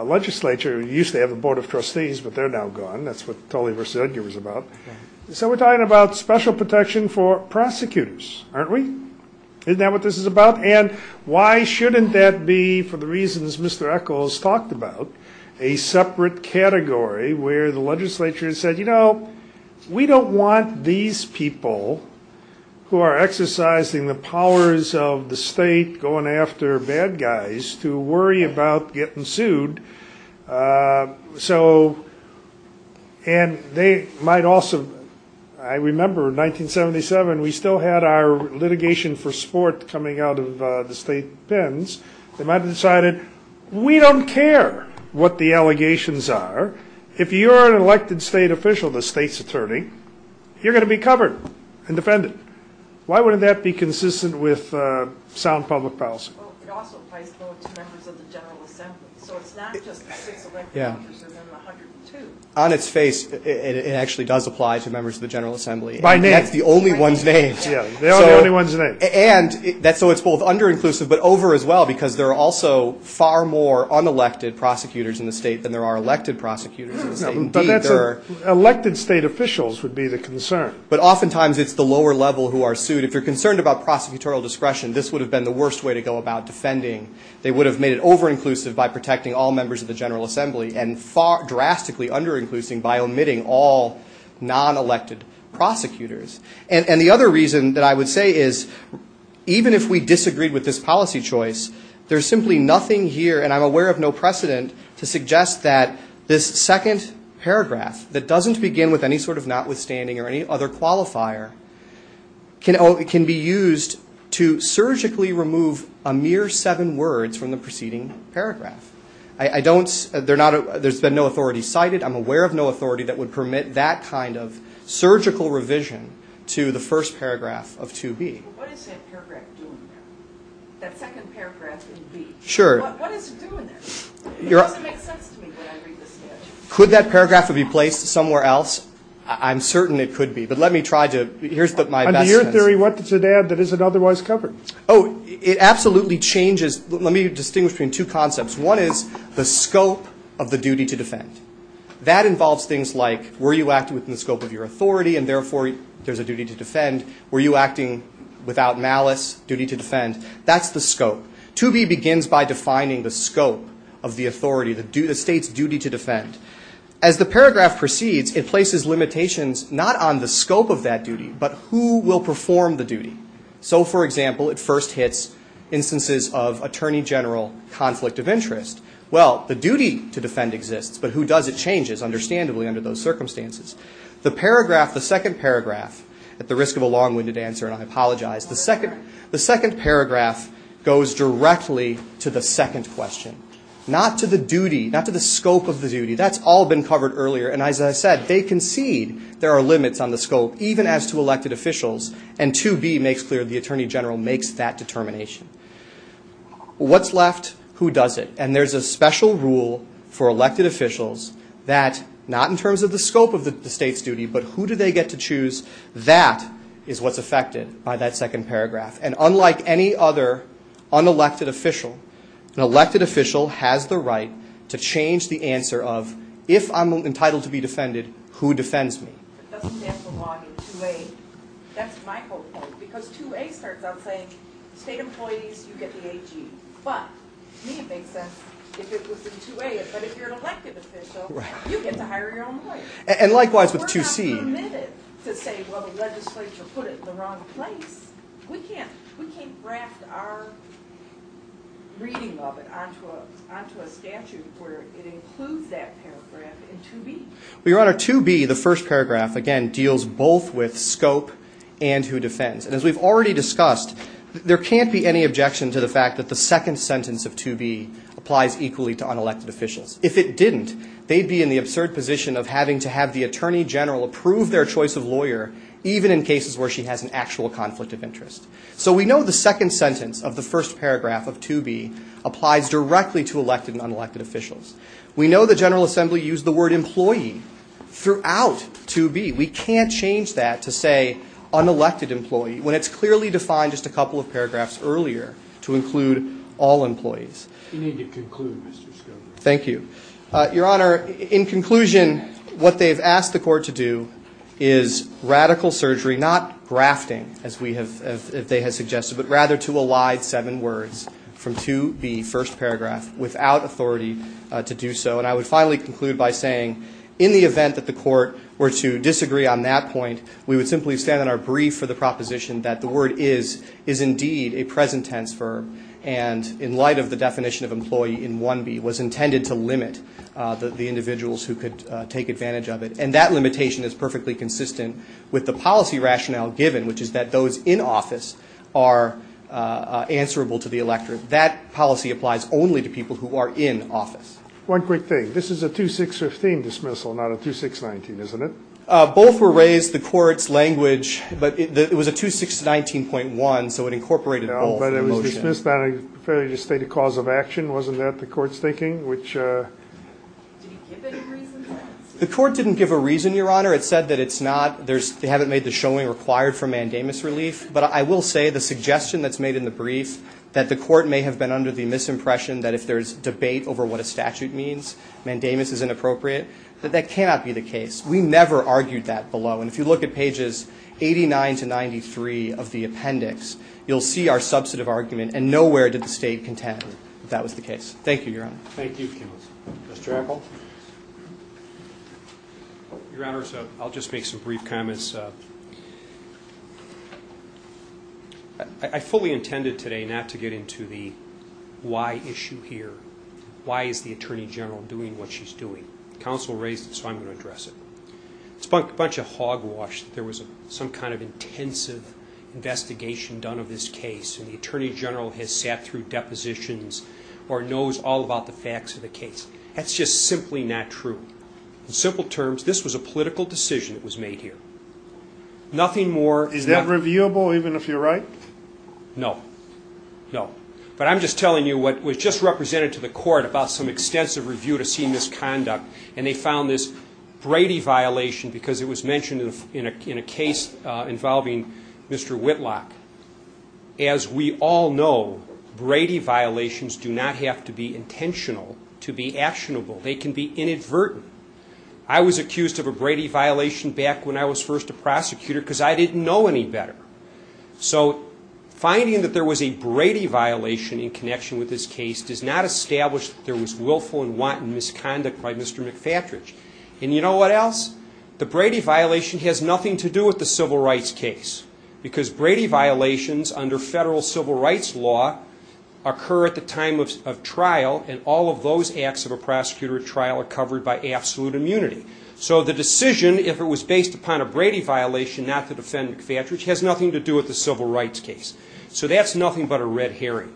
legislature used to have a board of trustees, but they're now gone. That's what Tully v. Edgar was about. So we're talking about special protection for prosecutors, aren't we? Isn't that what this is about? And why shouldn't that be, for the reasons Mr. Eccles talked about, a separate category where the legislature said, you know, we don't want these people who are exercising the powers of the state, going after bad guys, to worry about getting sued. So and they might also, I remember in 1977, we still had our litigation for sport coming out of the state pens. They might have decided, we don't care what the allegations are. If you are an elected state official, the state's attorney, you're going to be covered and defended. Why wouldn't that be consistent with sound public policy? It also applies to members of the General Assembly. So it's not just the six elected officers and then the 102. On its face, it actually does apply to members of the General Assembly. By name. And that's the only one's name. Yeah, they're the only ones named. And so it's both under-inclusive but over as well, because there are also far more unelected prosecutors in the state than there are elected prosecutors in the state. Indeed, there are. Elected state officials would be the concern. But oftentimes it's the lower level who are sued. If you're concerned about prosecutorial discretion, this would have been the worst way to go about defending. They would have made it over-inclusive by protecting all members of the General Assembly and drastically under-inclusive by omitting all non-elected prosecutors. And the other reason that I would say is even if we disagreed with this policy choice, there's simply nothing here, and I'm aware of no precedent, to suggest that this second paragraph that doesn't begin with any sort of notwithstanding or any other qualifier can be used to surgically remove a mere seven words from the preceding paragraph. There's been no authority cited. I'm aware of no authority that would permit that kind of surgical revision to the first paragraph of 2B. What is that paragraph doing there? That second paragraph in B. Sure. What is it doing there? It doesn't make sense to me when I read the sketch. Could that paragraph be placed somewhere else? I'm certain it could be. But let me try to. Here's my best sense. Under your theory, what does it add that isn't otherwise covered? Oh, it absolutely changes. Let me distinguish between two concepts. One is the scope of the duty to defend. That involves things like were you acting within the scope of your authority, and therefore there's a duty to defend. Were you acting without malice, duty to defend. That's the scope. 2B begins by defining the scope of the authority, the state's duty to defend. As the paragraph proceeds, it places limitations not on the scope of that duty, but who will perform the duty. So, for example, it first hits instances of attorney general conflict of interest. Well, the duty to defend exists, but who does it change is, understandably, under those circumstances. The paragraph, the second paragraph, at the risk of a long-winded answer, and I apologize, the second paragraph goes directly to the second question, not to the duty, not to the scope of the duty. That's all been covered earlier. And as I said, they concede there are limits on the scope, even as to elected officials. And 2B makes clear the attorney general makes that determination. What's left, who does it? And there's a special rule for elected officials that, not in terms of the scope of the state's duty, but who do they get to choose, that is what's affected by that second paragraph. And unlike any other unelected official, an elected official has the right to change the answer of, if I'm entitled to be defended, who defends me. It doesn't stand for law in 2A. That's my whole point, because 2A starts out saying, state employees, you get the AG. But to me it makes sense if it was in 2A, but if you're an elected official, you get to hire your own lawyer. And likewise with 2C. We're not permitted to say, well, the legislature put it in the wrong place. We can't draft our reading of it onto a statute where it includes that paragraph in 2B. Well, Your Honor, 2B, the first paragraph, again, deals both with scope and who defends. And as we've already discussed, there can't be any objection to the fact that the second sentence of 2B applies equally to unelected officials. If it didn't, they'd be in the absurd position of having to have the Attorney General approve their choice of lawyer, even in cases where she has an actual conflict of interest. So we know the second sentence of the first paragraph of 2B applies directly to elected and unelected officials. We know the General Assembly used the word employee throughout 2B. We can't change that to say unelected employee when it's clearly defined just a couple of paragraphs earlier to include all employees. You need to conclude, Mr. Schover. Thank you. Your Honor, in conclusion, what they've asked the court to do is radical surgery, not grafting, as they have suggested, but rather to elide seven words from 2B, first paragraph, without authority to do so. And I would finally conclude by saying, in the event that the court were to disagree on that point, we would simply stand on our brief for the proposition that the word is, is indeed a present tense verb, and in light of the definition of employee in 1B, was intended to limit the individuals who could take advantage of it. And that limitation is perfectly consistent with the policy rationale given, which is that those in office are answerable to the electorate. That policy applies only to people who are in office. One quick thing. This is a 2-6-15 dismissal, not a 2-6-19, isn't it? Both were raised, the court's language, but it was a 2-6-19.1, so it incorporated both. But it was dismissed as a failure to state a cause of action, wasn't that the court's thinking? Did it give any reason for that? The court didn't give a reason, Your Honor. It said that it's not, they haven't made the showing required for mandamus relief. But I will say the suggestion that's made in the brief, that the court may have been under the misimpression that if there's debate over what a statute means, mandamus is inappropriate, that that cannot be the case. We never argued that below. And if you look at pages 89 to 93 of the appendix, you'll see our substantive argument, and nowhere did the state contend that that was the case. Thank you, Your Honor. Thank you, Kenneth. Mr. Apple? Your Honor, I'll just make some brief comments. I fully intended today not to get into the why issue here. Why is the Attorney General doing what she's doing? Counsel raised it, so I'm going to address it. It's a bunch of hogwash that there was some kind of intensive investigation done of this case, and the Attorney General has sat through depositions or knows all about the facts of the case. That's just simply not true. In simple terms, this was a political decision that was made here. Nothing more. Is that reviewable, even if you're right? No. No. But I'm just telling you what was just represented to the court about some extensive review to see misconduct, and they found this Brady violation, because it was mentioned in a case involving Mr. Whitlock. As we all know, Brady violations do not have to be intentional to be actionable. They can be inadvertent. I was accused of a Brady violation back when I was first a prosecutor because I didn't know any better. So finding that there was a Brady violation in connection with this case does not establish that there was willful and wanton misconduct by Mr. McFatridge. And you know what else? The Brady violation has nothing to do with the civil rights case because Brady violations under federal civil rights law occur at the time of trial, and all of those acts of a prosecutor at trial are covered by absolute immunity. So the decision if it was based upon a Brady violation not to defend McFatridge has nothing to do with the civil rights case. So that's nothing but a red herring.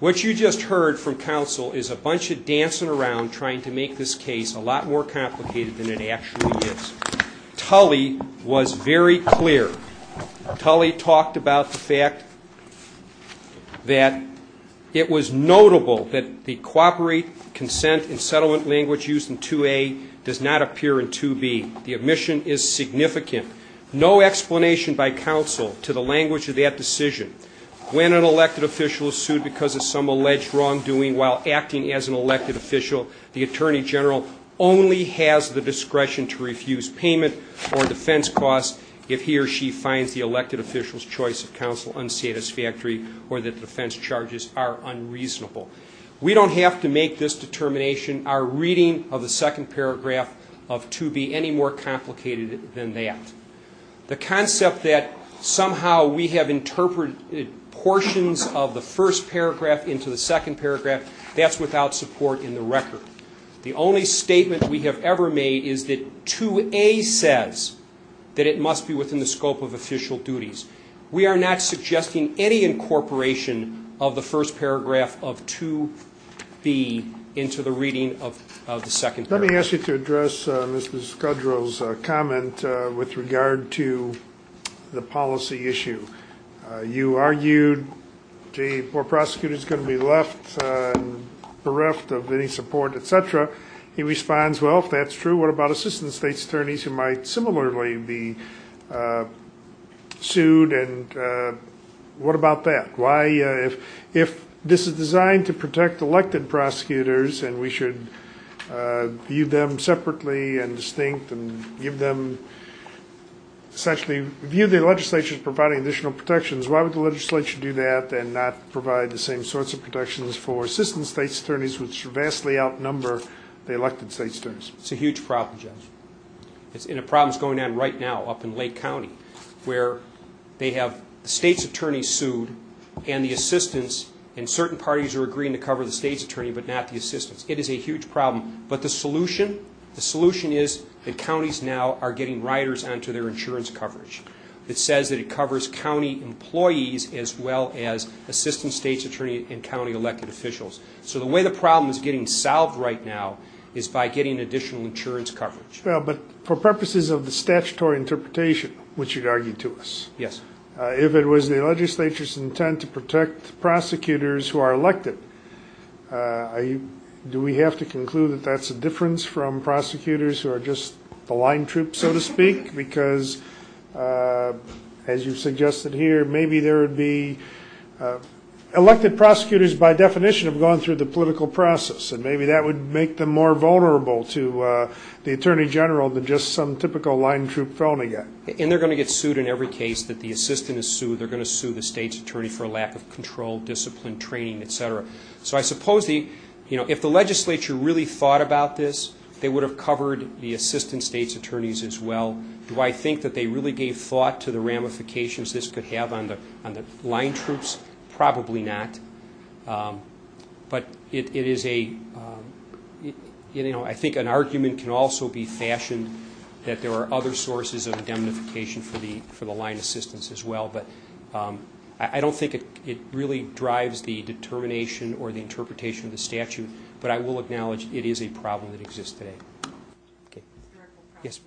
What you just heard from counsel is a bunch of dancing around trying to make this case a lot more complicated than it actually is. Tully was very clear. Tully talked about the fact that it was notable that the cooperate, consent, and settlement language used in 2A does not appear in 2B. The omission is significant. No explanation by counsel to the language of that decision. When an elected official is sued because of some alleged wrongdoing while acting as an elected official, the attorney general only has the discretion to refuse payment or defense costs if he or she finds the elected official's choice of counsel unsatisfactory or that the defense charges are unreasonable. We don't have to make this determination. Our reading of the second paragraph of 2B any more complicated than that. The concept that somehow we have interpreted portions of the first paragraph into the second paragraph, that's without support in the record. The only statement we have ever made is that 2A says that it must be within the scope of official duties. We are not suggesting any incorporation of the first paragraph of 2B into the reading of the second paragraph. Let me ask you to address Mr. Scudro's comment with regard to the policy issue. You argued, gee, a poor prosecutor is going to be left bereft of any support, etc. He responds, well, if that's true, what about assistant state's attorneys who might similarly be sued? What about that? If this is designed to protect elected prosecutors and we should view them separately and distinct and essentially view the legislature as providing additional protections, why would the legislature do that and not provide the same sorts of protections for assistant state's attorneys which vastly outnumber the elected state's attorneys? It's a huge problem, Judge. And a problem that's going on right now up in Lake County where they have the state's attorneys sued and the assistants and certain parties are agreeing to cover the state's attorney but not the assistants. It is a huge problem, but the solution is that counties now are getting riders onto their insurance coverage. It says that it covers county employees as well as assistant state's attorney and county elected officials. So the way the problem is getting solved right now is by getting additional insurance coverage. Well, but for purposes of the statutory interpretation, which you'd argue to us, if it was the legislature's intent to protect prosecutors who are elected, do we have to conclude that that's a difference from prosecutors who are just the line troops, so to speak? Because as you've suggested here, maybe there would be elected prosecutors by definition have gone through the political process and maybe that would make them more vulnerable to the attorney general than just some typical line troop phony guy. And they're going to get sued in every case that the assistant is sued. They're going to sue the state's attorney for a lack of control, discipline, training, etc. So I suppose if the legislature really thought about this, they would have covered the assistant state's attorneys as well. Do I think that they really gave thought to the ramifications this could have on the line troops? Probably not. But it is a... I think an argument can also be fashioned that there are other sources of indemnification for the line assistants as well. But I don't think it really drives the determination or the interpretation of the statute, but I will acknowledge it is a problem that exists today. Yes.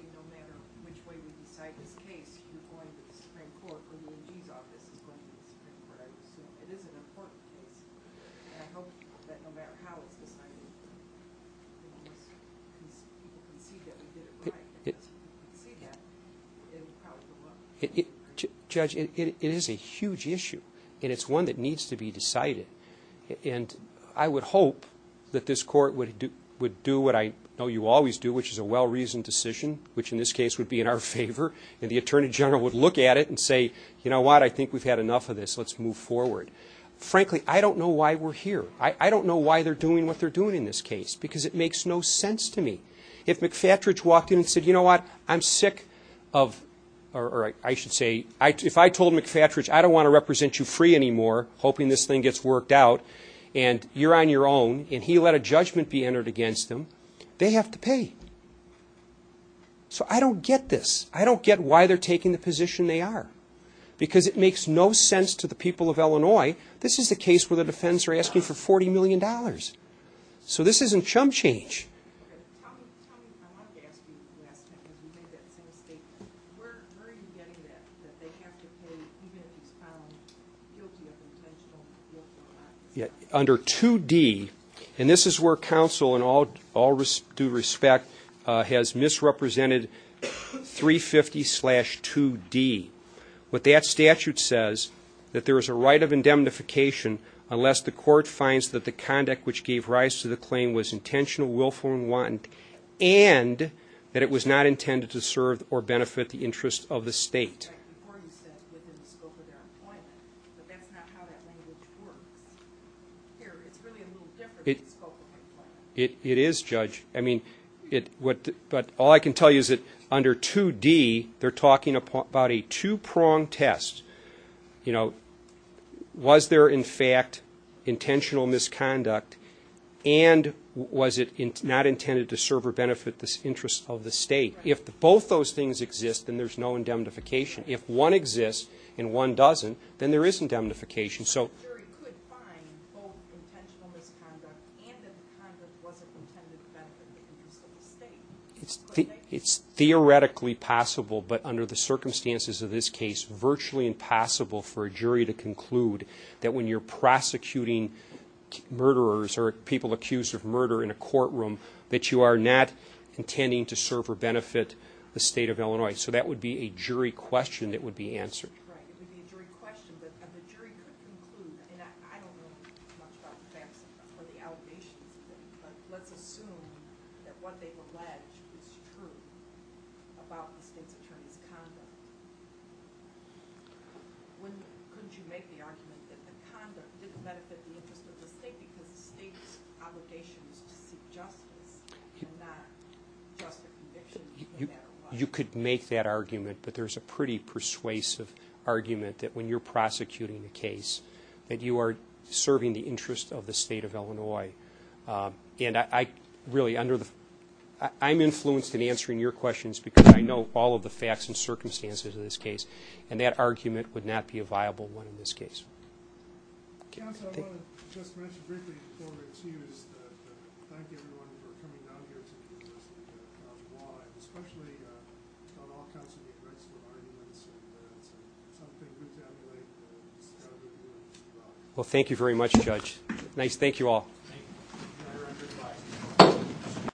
Judge, it is a huge issue. And it's one that needs to be decided. And I would hope that this court would do what I know you always do, which is a well-reasoned decision, which in this case would be in our favor, and the attorney general would look at it and say, you know what, I think we've had enough of this, let's move forward. Frankly, I don't know why we're here. I don't know why they're doing what they're doing in this case, because it makes no sense to me. If McFatridge walked in and said, you know what, I'm sick of... or I should say, if I told McFatridge, I don't want to represent you free anymore, hoping this thing gets worked out, and you're on your own, and he let a judgment be entered against him, they have to pay. So I don't get this. I don't get why they're taking the position they are, because it makes no sense to the people of Illinois. This is a case where the defense are asking for $40 million. So this isn't chump change. Under 2D, and this is where counsel, in all due respect, has misrepresented 350-2D. What that statute says, that there is a right of indemnification unless the court finds that the conduct which gave rise to the claim was intentional, willful, and wanton, and that it was not intended to serve or benefit the interest of the state. Here, it's really a little different. It is, Judge. But all I can tell you is that under 2D, they're talking about a two-prong test. You know, was there, in fact, intentional misconduct, and was it not intended to serve or benefit the interest of the state? If both those things exist, then there's no indemnification. If one exists and one doesn't, then there is indemnification. So the jury could find both intentional misconduct and if the conduct wasn't intended to benefit the interest of the state. It's theoretically possible, but under the circumstances of this case, virtually impossible for a jury to conclude that when you're prosecuting murderers or people accused of murder in a courtroom, that you are not intending to serve or benefit the state of Illinois. So that would be a jury question that would be answered. Right. It would be a jury question, but the jury could conclude. And I don't know much about the facts or the allegations, but let's assume that what they've alleged is true about the state's attorney's conduct. Couldn't you make the argument that the conduct didn't benefit the interest of the state because the state's obligation is to seek justice and not just a conviction, no matter what? You could make that argument, but there's a pretty persuasive argument that when you're prosecuting a case, that you are serving the interest of the state of Illinois. And I'm influenced in answering your questions because I know all of the facts and circumstances of this case. And that argument would not be a viable one in this case. Counsel, I want to just mention briefly before we choose to thank everyone for coming down here to the University of Illinois and especially on all counts of the offense, for arguments and evidence and something put down the way that this is how we're doing. Well, thank you very much, Judge. Nice. Thank you all. Thank you.